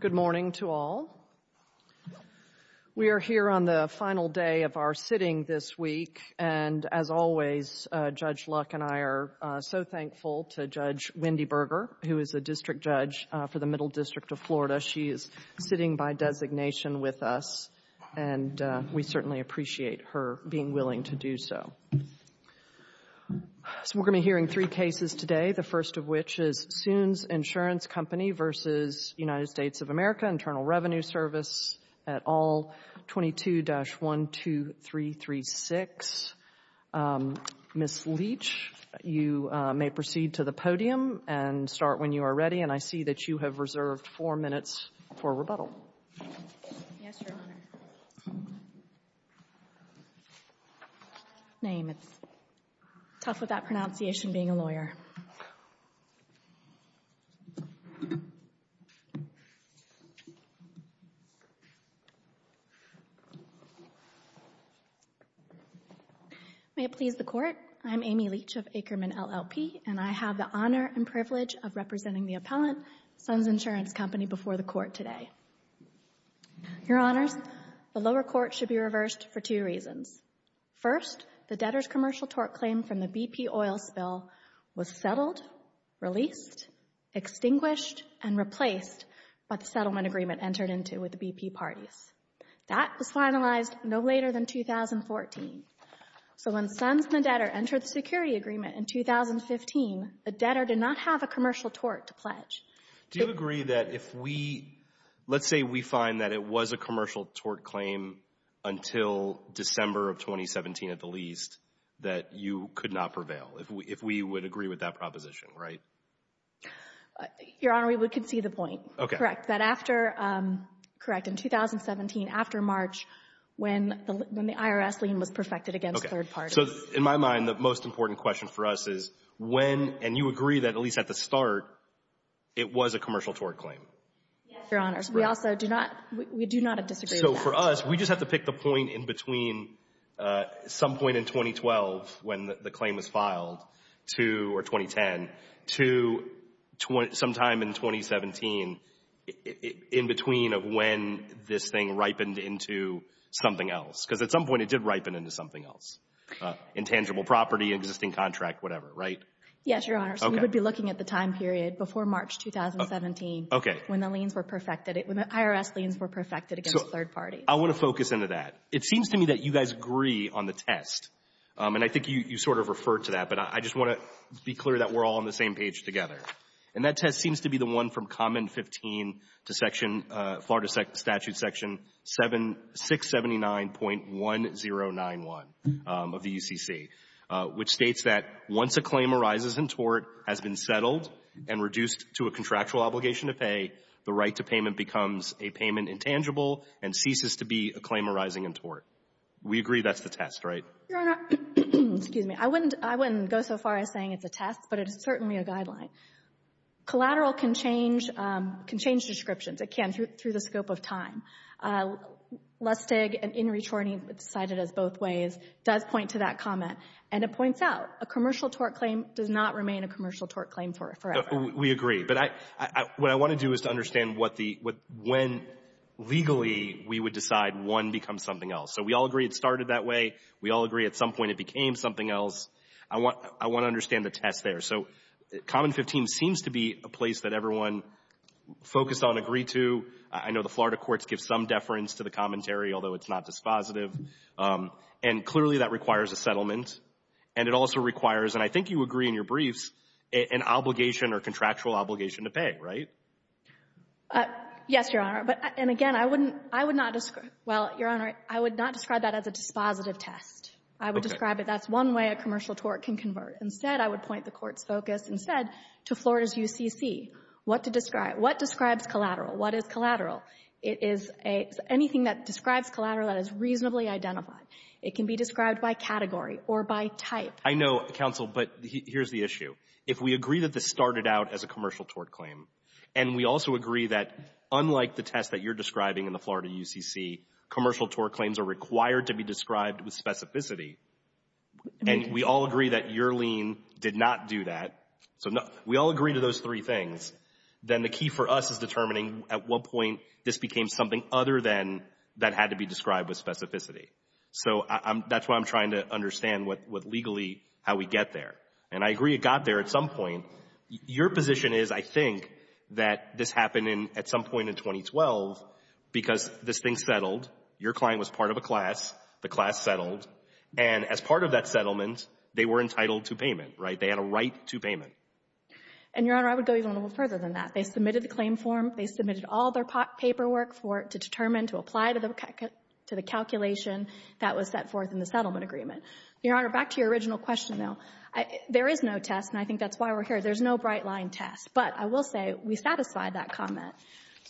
Good morning to all. We are here on the final day of our sitting this week, and as always, Judge Luck and I are so thankful to Judge Wendy Berger, who is a district judge for the Middle District of Florida. She is sitting by designation with us, and we certainly appreciate her being willing to do so. So we're going to be hearing three cases today, the first of which is Zunz Insurance Company v. United States of America Internal Revenue Service et al., 22-12336. Ms. Leach, you may proceed to the podium and start when you are ready, and I see that you have reserved four minutes for rebuttal. Yes, Your Honor. Name. It's tough with that pronunciation, being a lawyer. May it please the Court. I'm Amy Leach of Ackerman, LLP, and I have the honor and privilege of representing the appellant, Zunz Insurance Company, before the Court today. Your Honors, the lower court should be reversed for two reasons. First, the debtor's commercial tort claim from the BP oil spill was settled, released, extinguished, and replaced by the settlement agreement entered into with the BP parties. That was finalized no later than 2014. So when Zunz and the debtor security agreement in 2015, the debtor did not have a commercial tort to pledge. Do you agree that if we, let's say we find that it was a commercial tort claim until December of 2017 at the least, that you could not prevail, if we would agree with that proposition, right? Your Honor, we would concede the point. Correct. That after, correct, in 2017, after when the IRS lien was perfected against third parties. So in my mind, the most important question for us is when, and you agree that at least at the start, it was a commercial tort claim? Yes, Your Honors. We also do not, we do not disagree with that. So for us, we just have to pick the point in between some point in 2012, when the claim was filed, to, or 2010, to sometime in 2017, in between of when this thing ripened into something else. Because at some point it did ripen into something else. Intangible property, existing contract, whatever, right? Yes, Your Honor. So we would be looking at the time period before March 2017. Okay. When the liens were perfected, when the IRS liens were perfected against third parties. I want to focus into that. It seems to me that you guys agree on the test, and I think you sort of referred to that, but I just want to be clear that we're all on the same page together. And that test seems to be the one from Common 15 to section, Florida Statute section 679.1091 of the UCC, which states that once a claim arises in tort has been settled and reduced to a contractual obligation to pay, the right to payment becomes a payment intangible and ceases to be a claim arising in tort. We agree that's the test, right? Your Honor, excuse me. I wouldn't go so far as saying it's a test, but it is certainly a guideline. Collateral can change descriptions. It can through the scope of time. Lustig and In re Chorney, cited as both ways, does point to that comment. And it points out a commercial tort claim does not remain a commercial tort claim forever. We agree. But what I want to do is to understand when legally we would decide one becomes So we all agree it started that way. We all agree at some point it became something else. I want to understand the test there. So Common 15 seems to be a place that everyone focused on agreed to. I know the Florida courts give some deference to the commentary, although it's not dispositive. And clearly, that requires a settlement. And it also requires, and I think you agree in your briefs, an obligation or contractual obligation to pay, right? Yes, Your Honor. And again, I wouldn't – I would not – well, Your Honor, I would not describe that as a dispositive test. Okay. I would describe it that's one way a commercial tort can convert. Instead, I would point the Court's focus instead to Florida's UCC, what to describe. What describes collateral? What is collateral? It is anything that describes collateral that is reasonably identified. It can be described by category or by type. I know, counsel, but here's the issue. If we agree that this started out as a commercial tort claim, and we also agree that unlike the test that you're describing in the Florida UCC, commercial tort claims are required to be described with specificity, and we all agree that your lien did not do that – so we all agree to those three things – then the key for us is determining at what point this became something other than that had to be described with specificity. So that's why I'm trying to understand what legally – how we get there. And I agree it got there at some point. Your position is, I think, that this happened at some point in 2012 because this thing settled. Your client was part of a class. The class settled. And as part of that settlement, they were entitled to payment, right? They had a right to payment. And, Your Honor, I would go even a little further than that. They submitted the claim form. They submitted all their paperwork for it to determine, to apply to the calculation that was set forth in the settlement agreement. Your Honor, back to your original question, though. There is no test, and I think that's why we're here. There's no bright-line test. But I will say we satisfied that comment.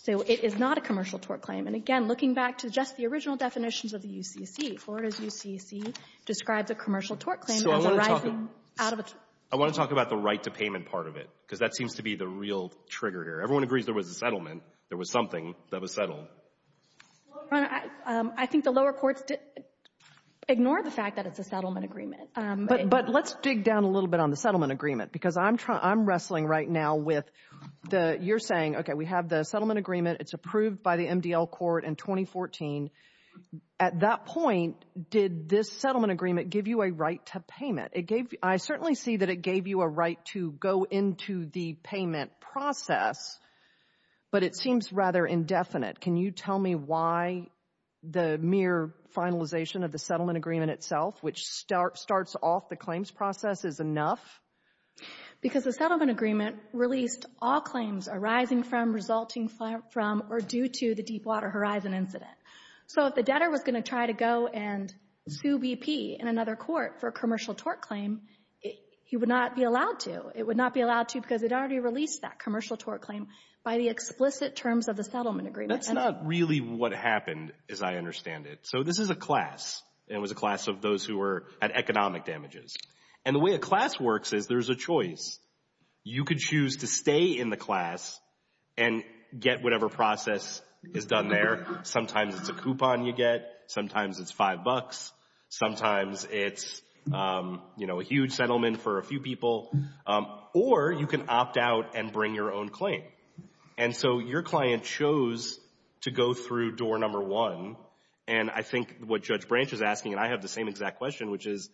So it is not a commercial tort claim. And, again, looking back to just the original definitions of the UCC, Florida's UCC describes a commercial tort claim as arising out of a – I want to talk about the right to payment part of it, because that seems to be the real trigger here. Everyone agrees there was a settlement. There was something that was settled. Well, Your Honor, I think the lower courts ignore the fact that it's a settlement agreement. But let's dig down a little bit on the settlement agreement, because I'm wrestling right now with the – you're saying, okay, we have the settlement agreement. It's approved by the MDL court in 2014. At that point, did this settlement agreement give you a right to payment? It gave – I certainly see that it gave you a right to go into the payment process, but it seems rather indefinite. Can you tell me why the mere finalization of the settlement agreement itself, which starts off the claims process, is enough? Because the settlement agreement released all claims arising from, resulting from, or due to the Deepwater Horizon incident. So if the debtor was going to try to go and sue BP in another court for a commercial tort claim, he would not be allowed to. It would not be allowed to because it already released that commercial tort claim by the explicit terms of the settlement agreement. That's not really what happened, as I understand it. So this is a class, and it had economic damages. And the way a class works is there's a choice. You could choose to stay in the class and get whatever process is done there. Sometimes it's a coupon you get. Sometimes it's five bucks. Sometimes it's, you know, a huge settlement for a few people. Or you can opt out and bring your own claim. And so your client chose to go through door number one, and I think what Judge Branch is asking, and I have the same exact question, which is,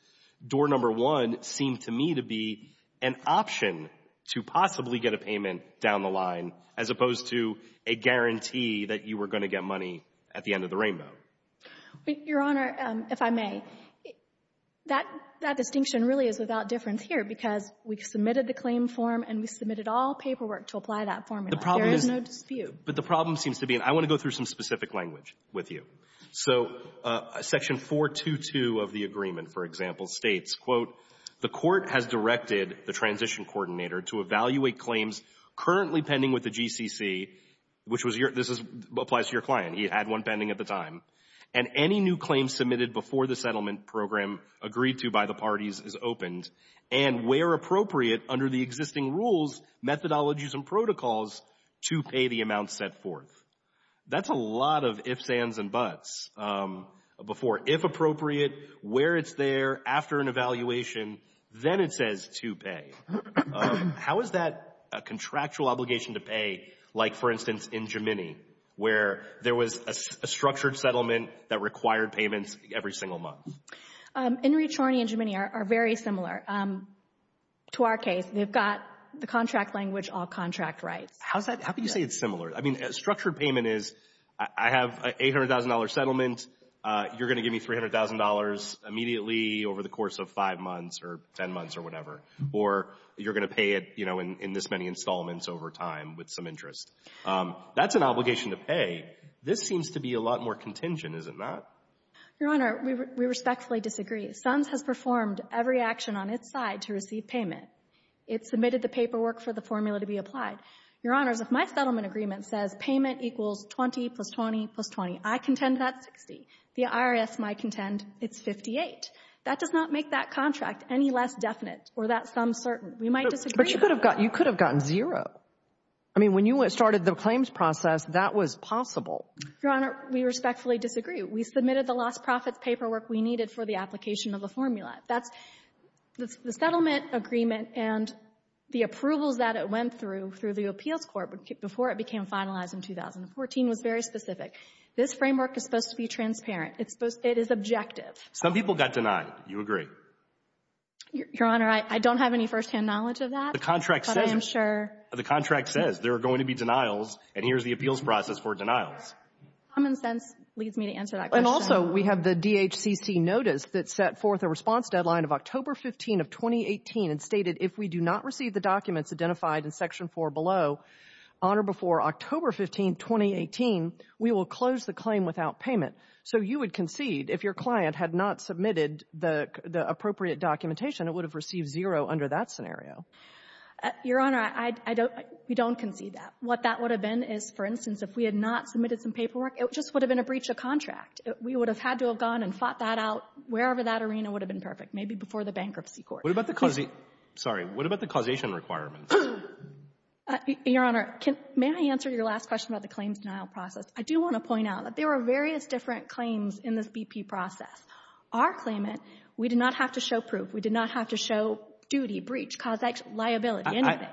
door number one seemed to me to be an option to possibly get a payment down the line as opposed to a guarantee that you were going to get money at the end of the rainbow. But, Your Honor, if I may, that distinction really is without difference here because we submitted the claim form and we submitted all paperwork to apply that formula. There is no dispute. But the problem seems to be, and I want to go through some specific language with you. So Section 422 of the agreement, for example, states, quote, the court has directed the transition coordinator to evaluate claims currently pending with the GCC, which was your, this applies to your client. He had one pending at the time. And any new claims submitted before the settlement program agreed to by the parties is opened and, where appropriate, under the existing rules, methodologies, and protocols to pay the amount set forth. That's a lot of ifs, ands, and buts. Before, if appropriate, where it's there, after an evaluation, then it says to pay. How is that a contractual obligation to pay, like, for instance, in Gemini, where there was a structured settlement that required payments every single month? In Reed-Chorney and Gemini are very similar to our case. They've got the contract language, all contract rights. How is that, how can you say it's similar? I mean, a structured payment is, I have an $800,000 settlement. You're going to give me $300,000 immediately over the course of five months or ten months or whatever. Or you're going to pay it, you know, in this many installments over time with some interest. That's an obligation to pay. This seems to be a lot more contingent, is it not? Your Honor, we respectfully disagree. SUNS has performed every action on its side to receive payment. It submitted the paperwork for the formula to be applied. Your Honors, if my settlement agreement says payment equals 20 plus 20 plus 20, I contend that's 60. The IRS might contend it's 58. That does not make that contract any less definite or that sum certain. We might disagree. But you could have gotten zero. I mean, when you started the claims process, that was possible. Your Honor, we respectfully disagree. We submitted the lost profits paperwork we needed for the application of the formula. That's the settlement agreement and the approvals that it went through through the appeals court before it became finalized in 2014 was very specific. This framework is supposed to be transparent. It's supposed to be objective. Some people got denied. You agree? Your Honor, I don't have any firsthand knowledge of that. The contract says there are going to be denials, and here's the appeals process for denials. Common sense leads me to answer that question. And also, we have the DHCC notice that set forth a response deadline of October 15 of 2018 and stated if we do not receive the documents identified in Section 4 below on or before October 15, 2018, we will close the claim without payment. So you would concede if your client had not submitted the appropriate documentation, it would have received zero under that scenario. Your Honor, I don't — we don't concede that. What that would have been is, for instance, if we had not submitted some paperwork, it just would have been a breach of contract. We would have had to have gone and fought that out wherever that arena would have been perfect, maybe before the bankruptcy court. What about the — sorry. What about the causation requirements? Your Honor, may I answer your last question about the claims denial process? I do want to point out that there are various different claims in this BP process. Our claimant, we did not have to show proof. We did not have to show duty, breach, causation, liability, anything.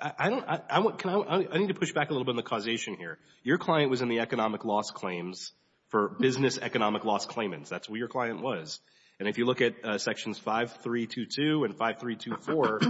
I don't — can I — I need to push back a little bit on the causation here. Your client was in the economic loss claims for business economic loss claimants. That's who your client was. And if you look at Sections 5322 and 5324,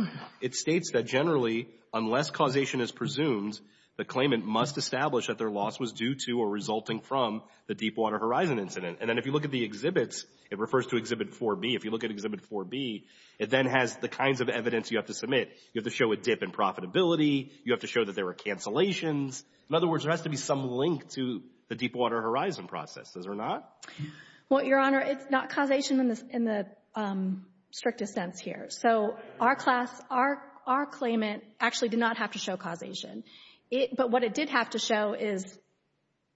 it states that generally, unless causation is presumed, the claimant must establish that their loss was due to or resulting from the Deepwater Horizon incident. And then if you look at the exhibits, it refers to Exhibit 4B. If you look at Exhibit 4B, it then has the kinds of evidence you have to submit. You have to show a dip in profitability. You have to show that there were cancellations. In other words, there has to be some link to the Deepwater Horizon process. Does there not? Well, Your Honor, it's not causation in the — in the strictest sense here. So our class, our — our claimant actually did not have to show causation. But what it did have to show is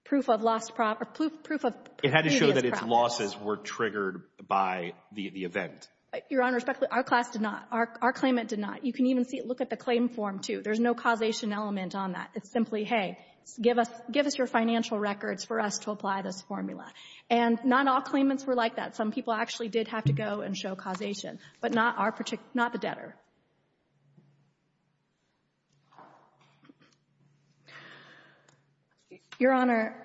proof of lost — or proof of previous property. It had to show that its losses were triggered by the event. Your Honor, respectfully, our class did not. Our claimant did not. You can even see — look at the claim form, too. There's no causation element on that. It's simply, hey, give us — give us your financial records for us to apply this formula. And not all claimants were like that. Some people actually did have to go and show causation. But not our particular — not the debtor. Your Honor,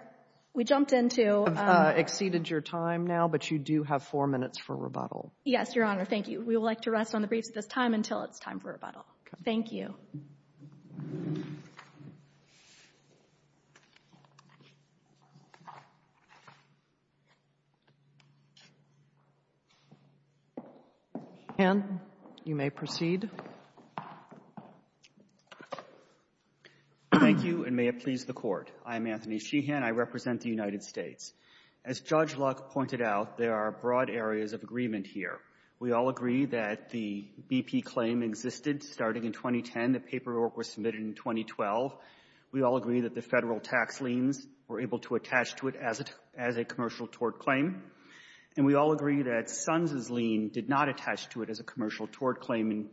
we jumped into — You have exceeded your time now, but you do have four minutes for rebuttal. Yes, Your Honor. Thank you. We would like to rest on the briefs at this time until it's time for rebuttal. Thank you. Sheehan, you may proceed. Thank you, and may it please the Court. I'm Anthony Sheehan. I represent the United States. As Judge Luck pointed out, there are broad areas of agreement here. We all agree that the BP claim existed starting in 2010. The paperwork was submitted in 2012. We all agree that the federal tax liens were able to attach to it as a commercial tort claim. And we all agree that Sons' lien did not attach to it as a commercial tort claim.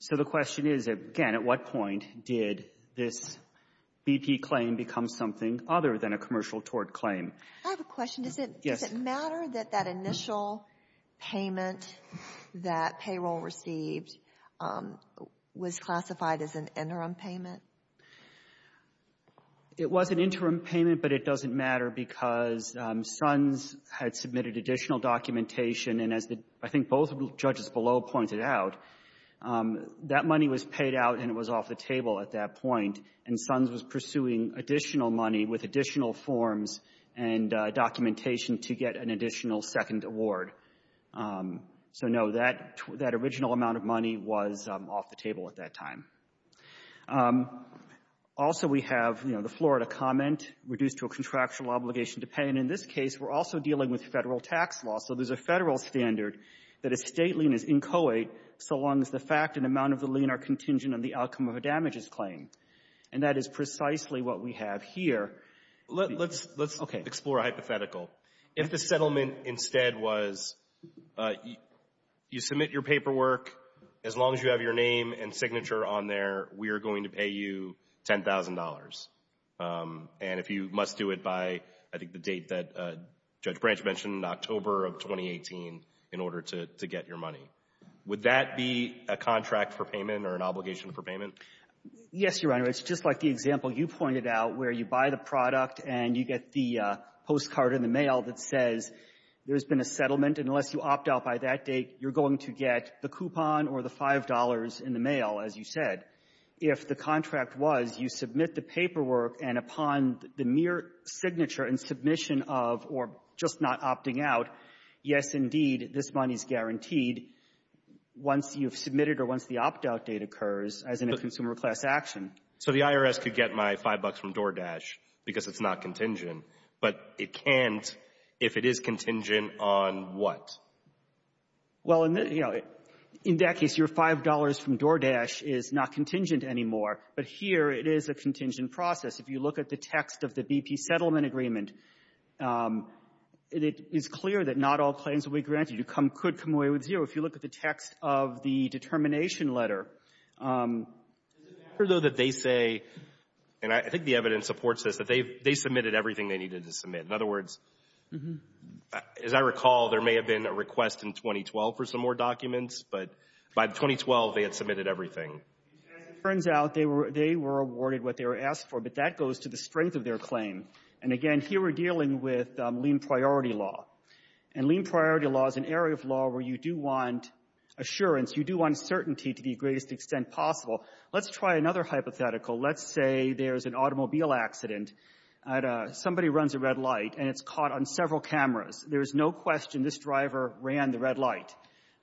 So the question is, again, at what point did this BP claim become something other than a commercial tort claim? I have a question. Does it matter that that initial payment that payroll received was classified as an interim payment? It was an interim payment, but it doesn't matter because Sons had submitted additional documentation. And as I think both of the judges below pointed out, that money was paid out and it was off the table at that point. And Sons was pursuing additional money with additional forms and documentation to get an additional second award. So, no, that original amount of money was off the table at that time. Also, we have, you know, the Florida comment, reduced to a contractual obligation to pay. And in this case, we're also dealing with federal tax law. So there's a federal standard that a State lien is inchoate so long as the fact and amount of the lien are contingent on the outcome of a damages claim. And that is precisely what we have here. Let's explore a hypothetical. If the settlement instead was you submit your paperwork, as long as you have your name and signature on there, we are going to pay you $10,000. And if you must do it by, I think, the date that Judge Branch mentioned, October of 2018, in order to get your money. Would that be a contract for payment or an obligation for payment? Yes, Your Honor. It's just like the example you pointed out, where you buy the product and you get the postcard in the mail that says, there's been a settlement, and unless you opt out by that date, you're going to get the coupon or the $5 in the mail, as you said. If the contract was you submit the paperwork, and upon the mere signature and submission of, or just not opting out, yes, indeed, this money is guaranteed once you've submitted or once the opt-out date occurs, as in a consumer class action. So the IRS could get my $5 from DoorDash because it's not contingent, but it can't if it is contingent on what? Well, in that case, your $5 from DoorDash is not contingent anymore, but here it is a contingent process. If you look at the text of the BP Settlement Agreement, it is clear that not all claims will be granted. You could come away with zero. If you look at the text of the determination letter. Is it fair, though, that they say, and I think the evidence supports this, that they submitted everything they needed to submit? In other words, as I recall, there may have been a request in 2012 for some more documents, but by 2012, they had submitted everything. As it turns out, they were awarded what they were asked for, but that goes to the strength of their claim. And again, here we're dealing with lien priority law. And lien priority law is an area of law where you do want assurance, you do want certainty to the greatest extent possible. Let's try another hypothetical. Let's say there's an automobile accident. Somebody runs a red light and it's caught on several cameras. There's no question this driver ran the red light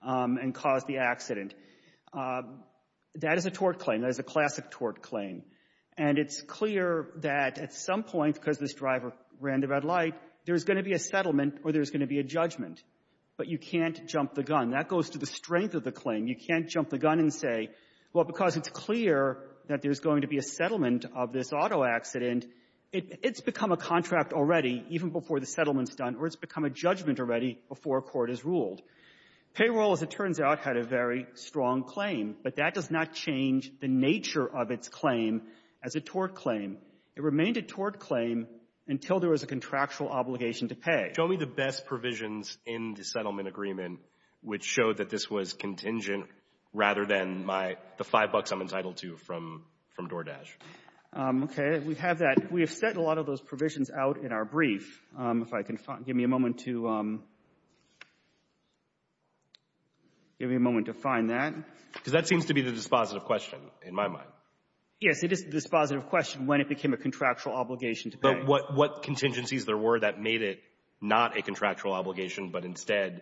and caused the accident. That is a tort claim. That is a classic tort claim. And it's clear that at some point, because this driver ran the red light, there's going to be a settlement or there's going to be a judgment. But you can't jump the gun. That goes to the strength of the claim. You can't jump the gun and say, well, because it's clear that there's going to be a settlement of this auto accident, it's become a contract already, even before the settlement's done, or it's become a judgment already before a court is ruled. Payroll, as it turns out, had a very strong claim, but that does not change the nature of its claim as a tort claim. It remained a tort claim until there was a contractual obligation to pay. Show me the best provisions in the settlement agreement which showed that this was contingent rather than the five bucks I'm entitled to from DoorDash. Okay, we have that. We have set a lot of those provisions out in our brief. If I can find... Give me a moment to... Give me a moment to find that. Because that seems to be the dispositive question, in my mind. Yes, it is the dispositive question, when it became a contractual obligation to pay. What contingencies there were that made it not a contractual obligation, but instead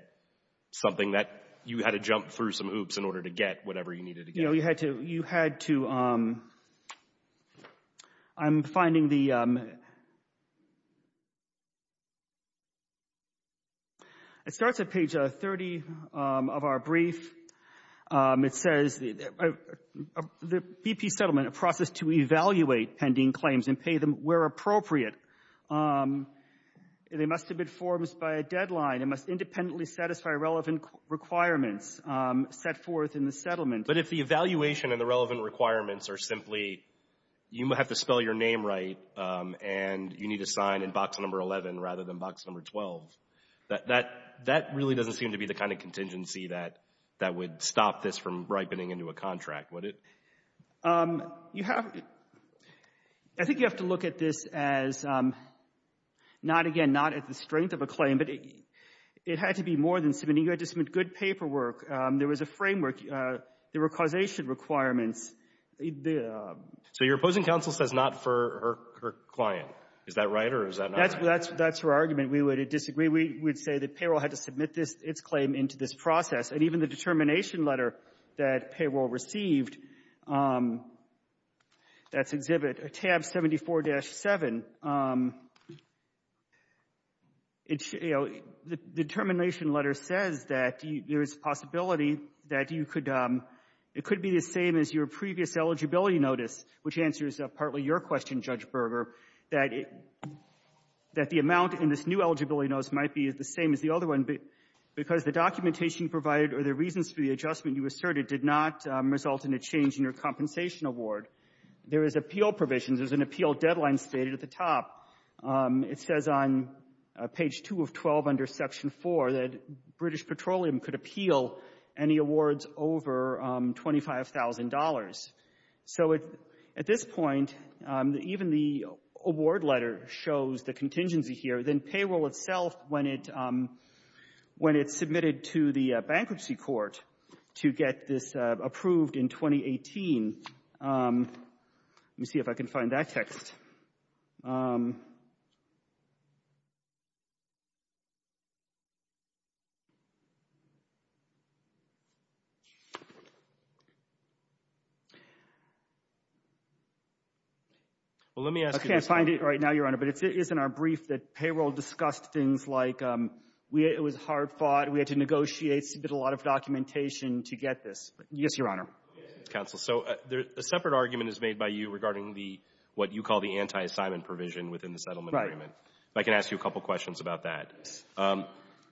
something that you had to jump through some hoops in order to get whatever you needed to get? It starts at page 30 of our brief. It says, the BP settlement, a process to evaluate pending claims and pay them where appropriate. They must have been forms by a deadline. It must independently satisfy relevant requirements set forth in the settlement. But if the evaluation and the relevant requirements are simply you have to spell your name right and you need to sign in box number 11 rather than box number 12, that really doesn't seem to be the kind of contingency that would stop this from ripening into a contract, would it? I think you have to look at this as, not again, not at the strength of a claim, but it had to be more than submitting. You had to submit good paperwork. There was a framework. There were causation requirements. So your opposing counsel says not for her client. Is that right or is that not right? That's her argument. We would disagree. We'd say the payroll had to submit its claim into this process. And even the determination letter that payroll received, that's exhibit tab 74-7, the determination letter says that there is a possibility that you could, it could be the same as your previous eligibility notice, which answers partly your question, Judge Berger, that the amount in this new eligibility notice might be the same as the other one because the documentation provided or the reasons for the adjustment you asserted did not result in a change in your compensation award. There is appeal provisions. There's an appeal deadline stated at the top. It says on page 2 of 12 under section 4 that British Petroleum could appeal any awards over $25,000. So at this point, even the award letter shows the contingency here. Then payroll itself, when it's submitted to the bankruptcy court to get this approved in 2018, let me see if I can find that text. I can't find it right now, Your Honor, but it is in our brief that payroll discussed things like it was hard fought, we had to negotiate, submit a lot of documentation to get this. Yes, Your Honor. Counsel, so a separate argument is made by you regarding what you call the anti-assignment provision within the settlement agreement. If I can ask you a couple questions about that.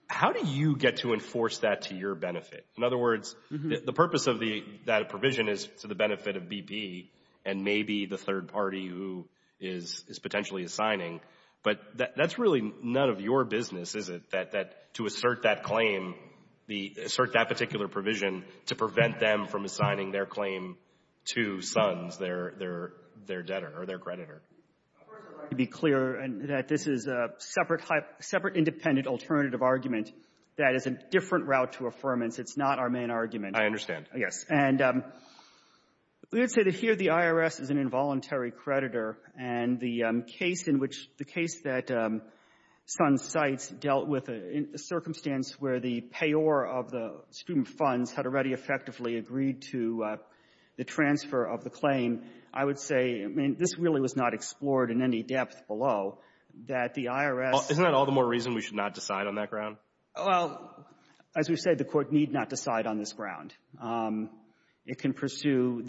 How do you get to enforce that to your benefit? In other words, the purpose of that provision is to the benefit of BP and maybe the third party who is potentially assigning, but that's really none of your business, is it, that to assert that claim, assert that particular provision to prevent them from assigning their claim to Sons, their debtor or their creditor? Of course, it's right to be clear that this is a separate independent alternative argument that is a different route to affirmance. It's not our main argument. I understand. Yes. And we would say that here the IRS is an involuntary creditor, and the case in which the case that Sons cites dealt with a circumstance where the payor of the student funds had already effectively agreed to the transfer of the claim, I would say, I mean, this really was not explored in any depth below, that the IRS — Isn't that all the more reason we should not decide on that ground? Well, as we've said, the Court need not decide on this ground. It can pursue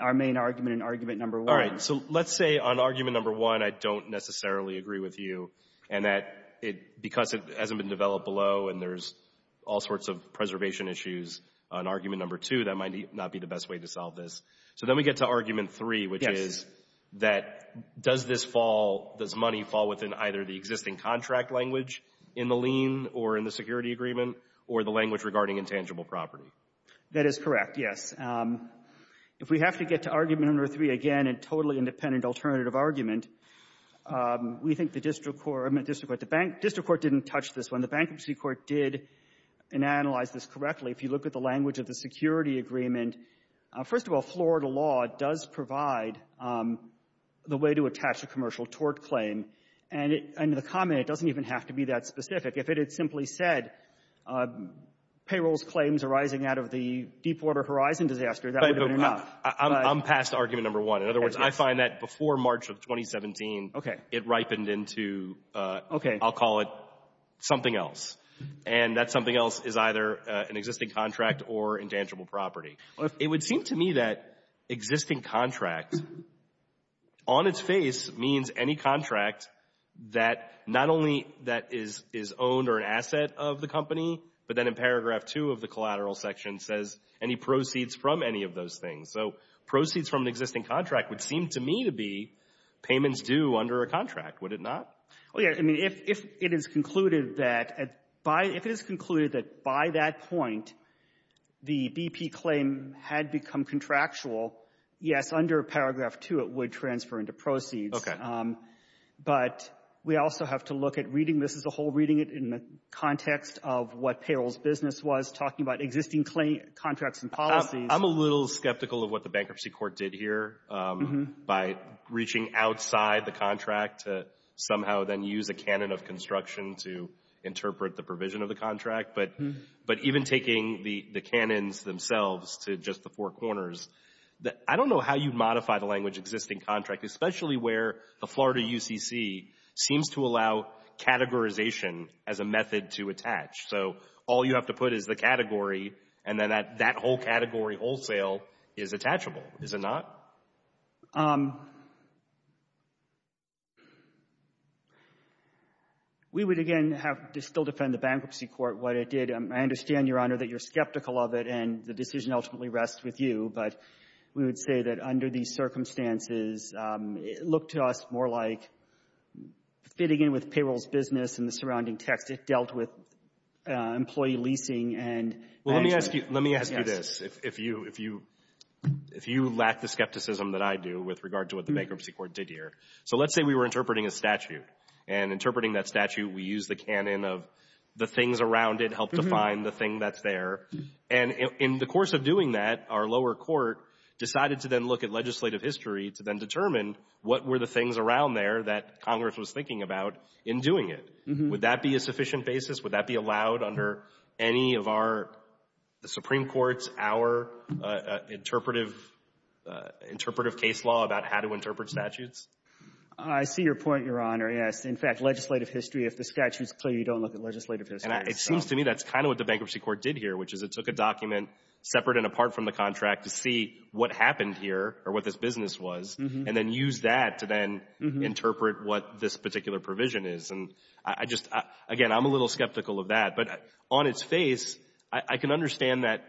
our main argument and argument number one. All right. So let's say on argument number one, I don't necessarily agree with you, and that because it hasn't been developed below and there's all sorts of preservation issues on argument number two, that might not be the best way to solve this. So then we get to argument three, which is that does this fall, does money fall within either the existing contract language in the lien or in the security agreement or the language regarding intangible property? That is correct, yes. If we have to get to argument number three again and totally independent alternative argument, we think the district court — I meant district court. The district court didn't touch this one. The bankruptcy court did and analyzed this correctly. If you look at the language of the security agreement, first of all, Florida law does provide the way to attach a commercial tort claim. And the comment, it doesn't even have to be that specific. If it had simply said, payrolls claims arising out of the Deepwater Horizon disaster, that would have been enough. I'm past argument number one. In other words, I find that before March of 2017, it ripened into, I'll call it, something else. And that something else is either an existing contract or intangible property. It would seem to me that existing contract, on its face, means any contract that not only that is owned or an asset of the company, but then in paragraph two of the collateral section says any proceeds from any of those things. So proceeds from an existing contract would seem to me to be payments due under a contract. Would it not? Oh, yeah. I mean, if it is concluded that by — if it is concluded that by that point, the BP claim had become contractual, yes, under paragraph two, it would transfer into proceeds. Okay. But we also have to look at reading this as a whole, reading it in the context of what payrolls business was, talking about existing contracts and policies. I'm a little skeptical of what the bankruptcy court did here by reaching outside the contract to somehow then use a canon of construction to interpret the provision of the contract. But even taking the canons themselves to just the four corners, I don't know how you modify the language existing contract, especially where the Florida UCC seems to allow categorization as a method to attach. So all you have to put is the category and then that whole category wholesale is attachable. Is it not? We would, again, have to still defend the bankruptcy court what it did. I understand, Your Honor, that you're skeptical of it and the decision ultimately rests with you. But we would say that under these circumstances, it looked to us more like fitting in with payrolls business and the surrounding text. It dealt with employee leasing and management. Well, let me ask you this, if you lack the skepticism that I do with regard to what the bankruptcy court did here. So let's say we were interpreting a statute and interpreting that statute, we use the canon of the things around it help define the thing that's there. And in the course of doing that, our lower court decided to then look at legislative history to then determine what were the things around there that Congress was thinking about in doing it. Would that be a sufficient basis? Would that be allowed under any of our, the Supreme Court's, our interpretive case law about how to interpret statutes? I see your point, Your Honor. Yes. In fact, legislative history, if the statute's clear, you don't look at legislative history. It seems to me that's kind of what the bankruptcy court did here, which is it took a document separate and apart from the contract to see what happened here or what this business was and then use that to then interpret what this particular provision is. And I just, again, I'm a little skeptical of that. But on its face, I can understand that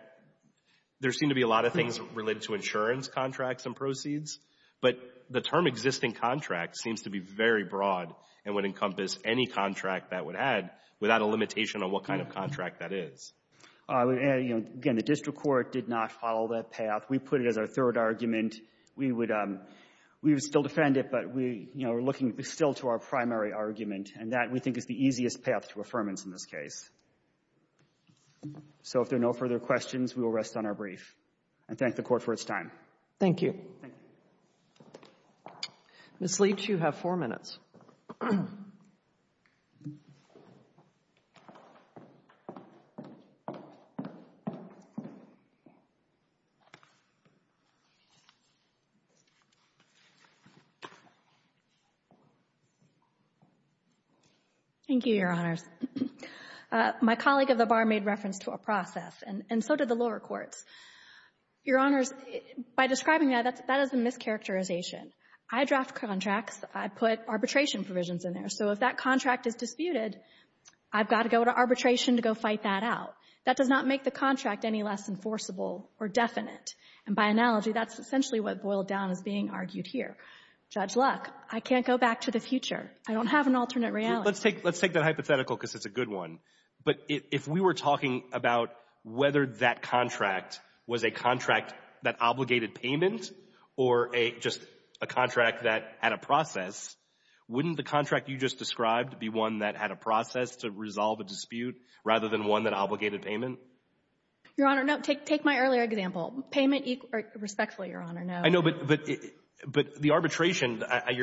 there seem to be a lot of things related to insurance contracts and proceeds. But the term existing contract seems to be very broad and would encompass any contract that would add without a limitation on what kind of contract that is. Again, the district court did not follow that path. We put it as our third argument. We would still defend it, but we're looking still to our primary argument. And that, we think, is the easiest path to affirmance in this case. So if there are no further questions, we will rest on our brief and thank the Court for its time. Thank you. Thank you. Ms. Leach, you have four minutes. Thank you, Your Honors. My colleague at the bar made reference to a process, and so did the lower courts. Your Honors, by describing that, that is a mischaracterization. I draft contracts. I put arbitration provisions in there. So if that contract is disputed, I've got to go to arbitration to go fight that out. That does not make the contract any less enforceable or definite. And by analogy, that's essentially what boiled down as being argued here. Judge Luck, I can't go back to the future. I don't have an alternate reality. Let's take that hypothetical because it's a good one. But if we were talking about whether that contract was a contract that obligated payment or just a contract that had a process, be one that had a process to resolve a dispute rather than one that obligated payment. Your Honor, no, take my earlier example. Payment, respectfully, Your Honor, no. I know, but the arbitration, I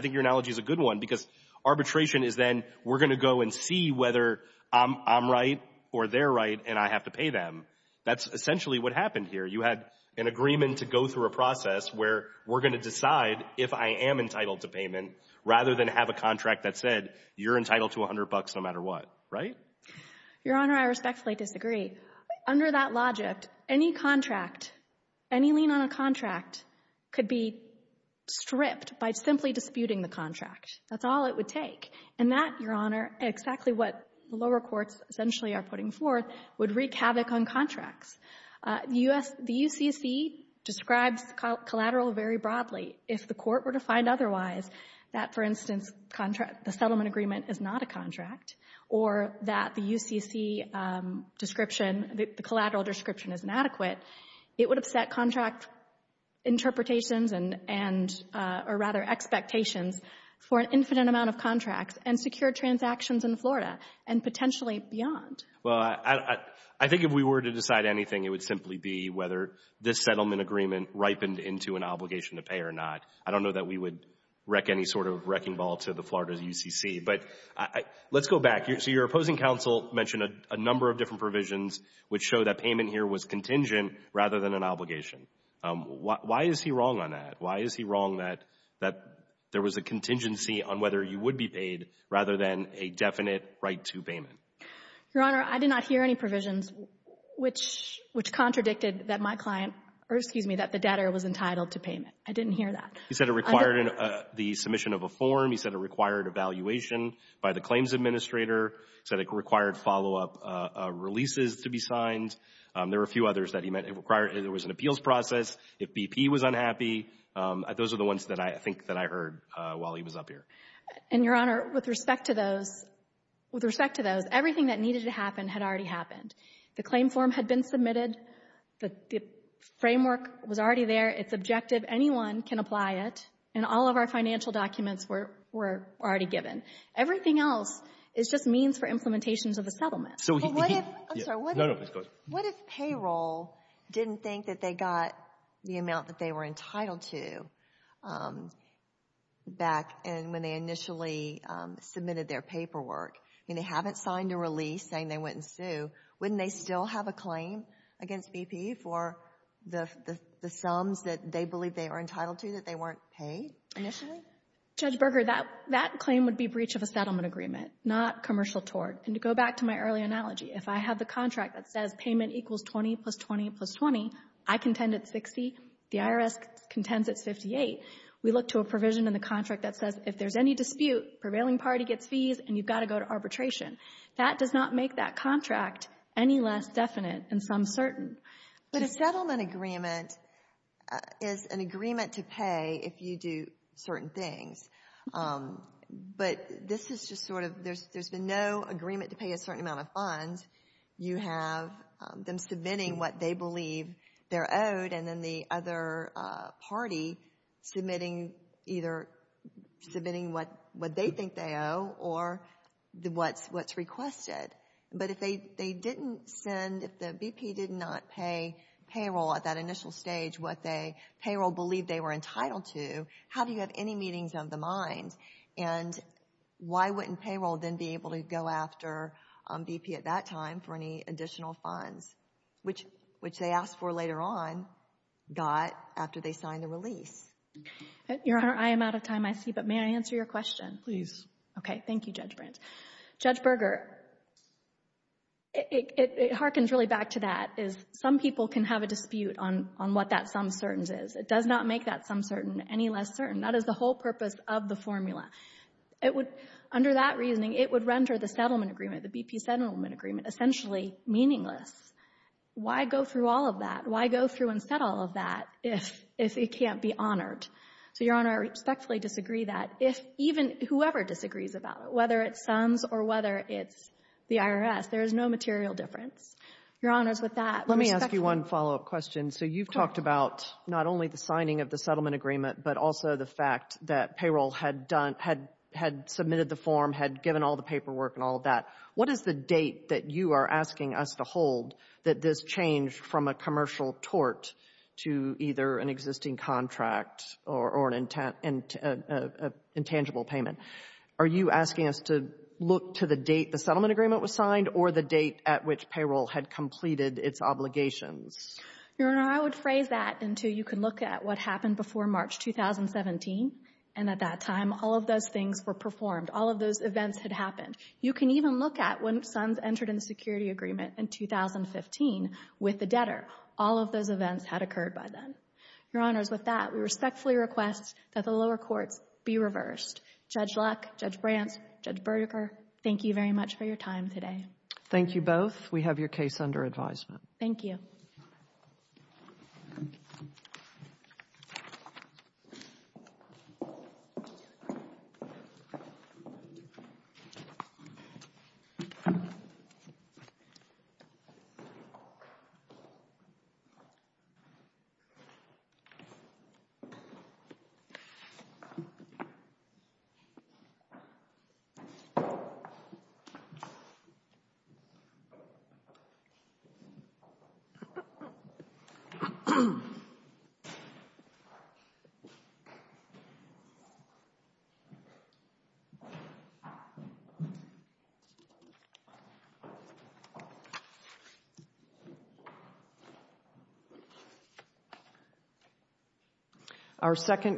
think your analogy is a good one because arbitration is then we're going to go and see whether I'm right or they're right and I have to pay them. That's essentially what happened here. You had an agreement to go through a process where we're going to decide if I am entitled to payment rather than have a contract that said you're entitled to $100 no matter what, right? Your Honor, I respectfully disagree. Under that logic, any contract, any lien on a contract could be stripped by simply disputing the contract. That's all it would take. And that, Your Honor, exactly what the lower courts essentially are putting forth would wreak havoc on contracts. The UCC describes collateral very broadly. If the court were to find otherwise that, for instance, the settlement agreement is not a contract or that the UCC description, the collateral description is inadequate, it would upset contract interpretations and or rather expectations for an infinite amount of contracts and secure transactions in Florida and potentially beyond. Well, I think if we were to decide anything, it would simply be whether this settlement agreement ripened into an obligation to pay or not. I don't know that we would wreck any sort of wrecking ball to the Florida UCC. But let's go back. So your opposing counsel mentioned a number of different provisions which show that payment here was contingent rather than an obligation. Why is he wrong on that? Why is he wrong that there was a contingency on whether you would be paid rather than a definite right to payment? Your Honor, I did not hear any provisions which contradicted that my client, or excuse me, that the debtor was entitled to payment. I didn't hear that. He said it required the submission of a form. He said it required evaluation by the claims administrator. He said it required follow-up releases to be signed. There were a few others that he meant it required. There was an appeals process if BP was unhappy. Those are the ones that I think that I heard while he was up here. And Your Honor, with respect to those, with respect to those, everything that needed to happen had already happened. The claim form had been submitted. The framework was already there. It's objective. Anyone can apply it. And all of our financial documents were already given. Everything else is just means for implementations of a settlement. But what if, I'm sorry, what if, what if payroll didn't think that they got the amount that they were entitled to back in when they initially submitted their paperwork? I mean, they haven't signed a release saying they wouldn't sue. Wouldn't they still have a claim against BP for the sums that they believe they are entitled to that they weren't paid initially? Judge Berger, that claim would be breach of a settlement agreement, not commercial tort. And to go back to my early analogy, if I have the contract that says payment equals 20 plus 20 plus 20, I contend it's 60. The IRS contends it's 58. We look to a provision in the contract that says if there's any dispute, prevailing party gets fees, and you've got to go to arbitration. That does not make that contract any less definite and some certain. But a settlement agreement is an agreement to pay if you do certain things. But this is just sort of, there's been no agreement to pay a certain amount of funds. You have them submitting what they believe they're owed, and then the other party submitting either, submitting what they think they owe or what's requested. But if they didn't send, if the BP did not pay payroll at that initial stage, what the payroll believed they were entitled to, how do you have any meetings of the mind? And why wouldn't payroll then be able to go after BP at that time for any additional funds, which they asked for later on, got after they signed the release? Your Honor, I am out of time, I see. But may I answer your question? Please. Okay. Thank you, Judge Brandt. Judge Berger, it harkens really back to that, is some people can have a dispute on what that some certains is. It does not make that some certain any less certain. That is the whole purpose of the formula. It would, under that reasoning, it would render the settlement agreement, the BP settlement agreement, essentially meaningless. Why go through all of that? Why go through and set all of that if it can't be honored? So, Your Honor, I respectfully disagree that. If even whoever disagrees about it, whether it sums or whether it's the IRS, there is no material difference. Your Honor, with that, respectfully. Let me ask you one follow-up question. So, you've talked about not only the signing of the settlement agreement, but also the fact that payroll had submitted the form, had given all the paperwork and all of that. What is the date that you are asking us to hold that this changed from a commercial tort to either an existing contract or an intangible payment? Are you asking us to look to the date the settlement agreement was signed or the date at which payroll had completed its obligations? Your Honor, I would phrase that until you can look at what happened before March 2017. And at that time, all of those things were performed. All of those events had happened. You can even look at when Sons entered in the security agreement in 2015 with the debtor. All of those events had occurred by then. Your Honors, with that, we respectfully request that the lower courts be reversed. Judge Luck, Judge Brant, Judge Berger, thank you very much for your time today. Thank you both. We have your case under advisement. Thank you. Thank you. Our second...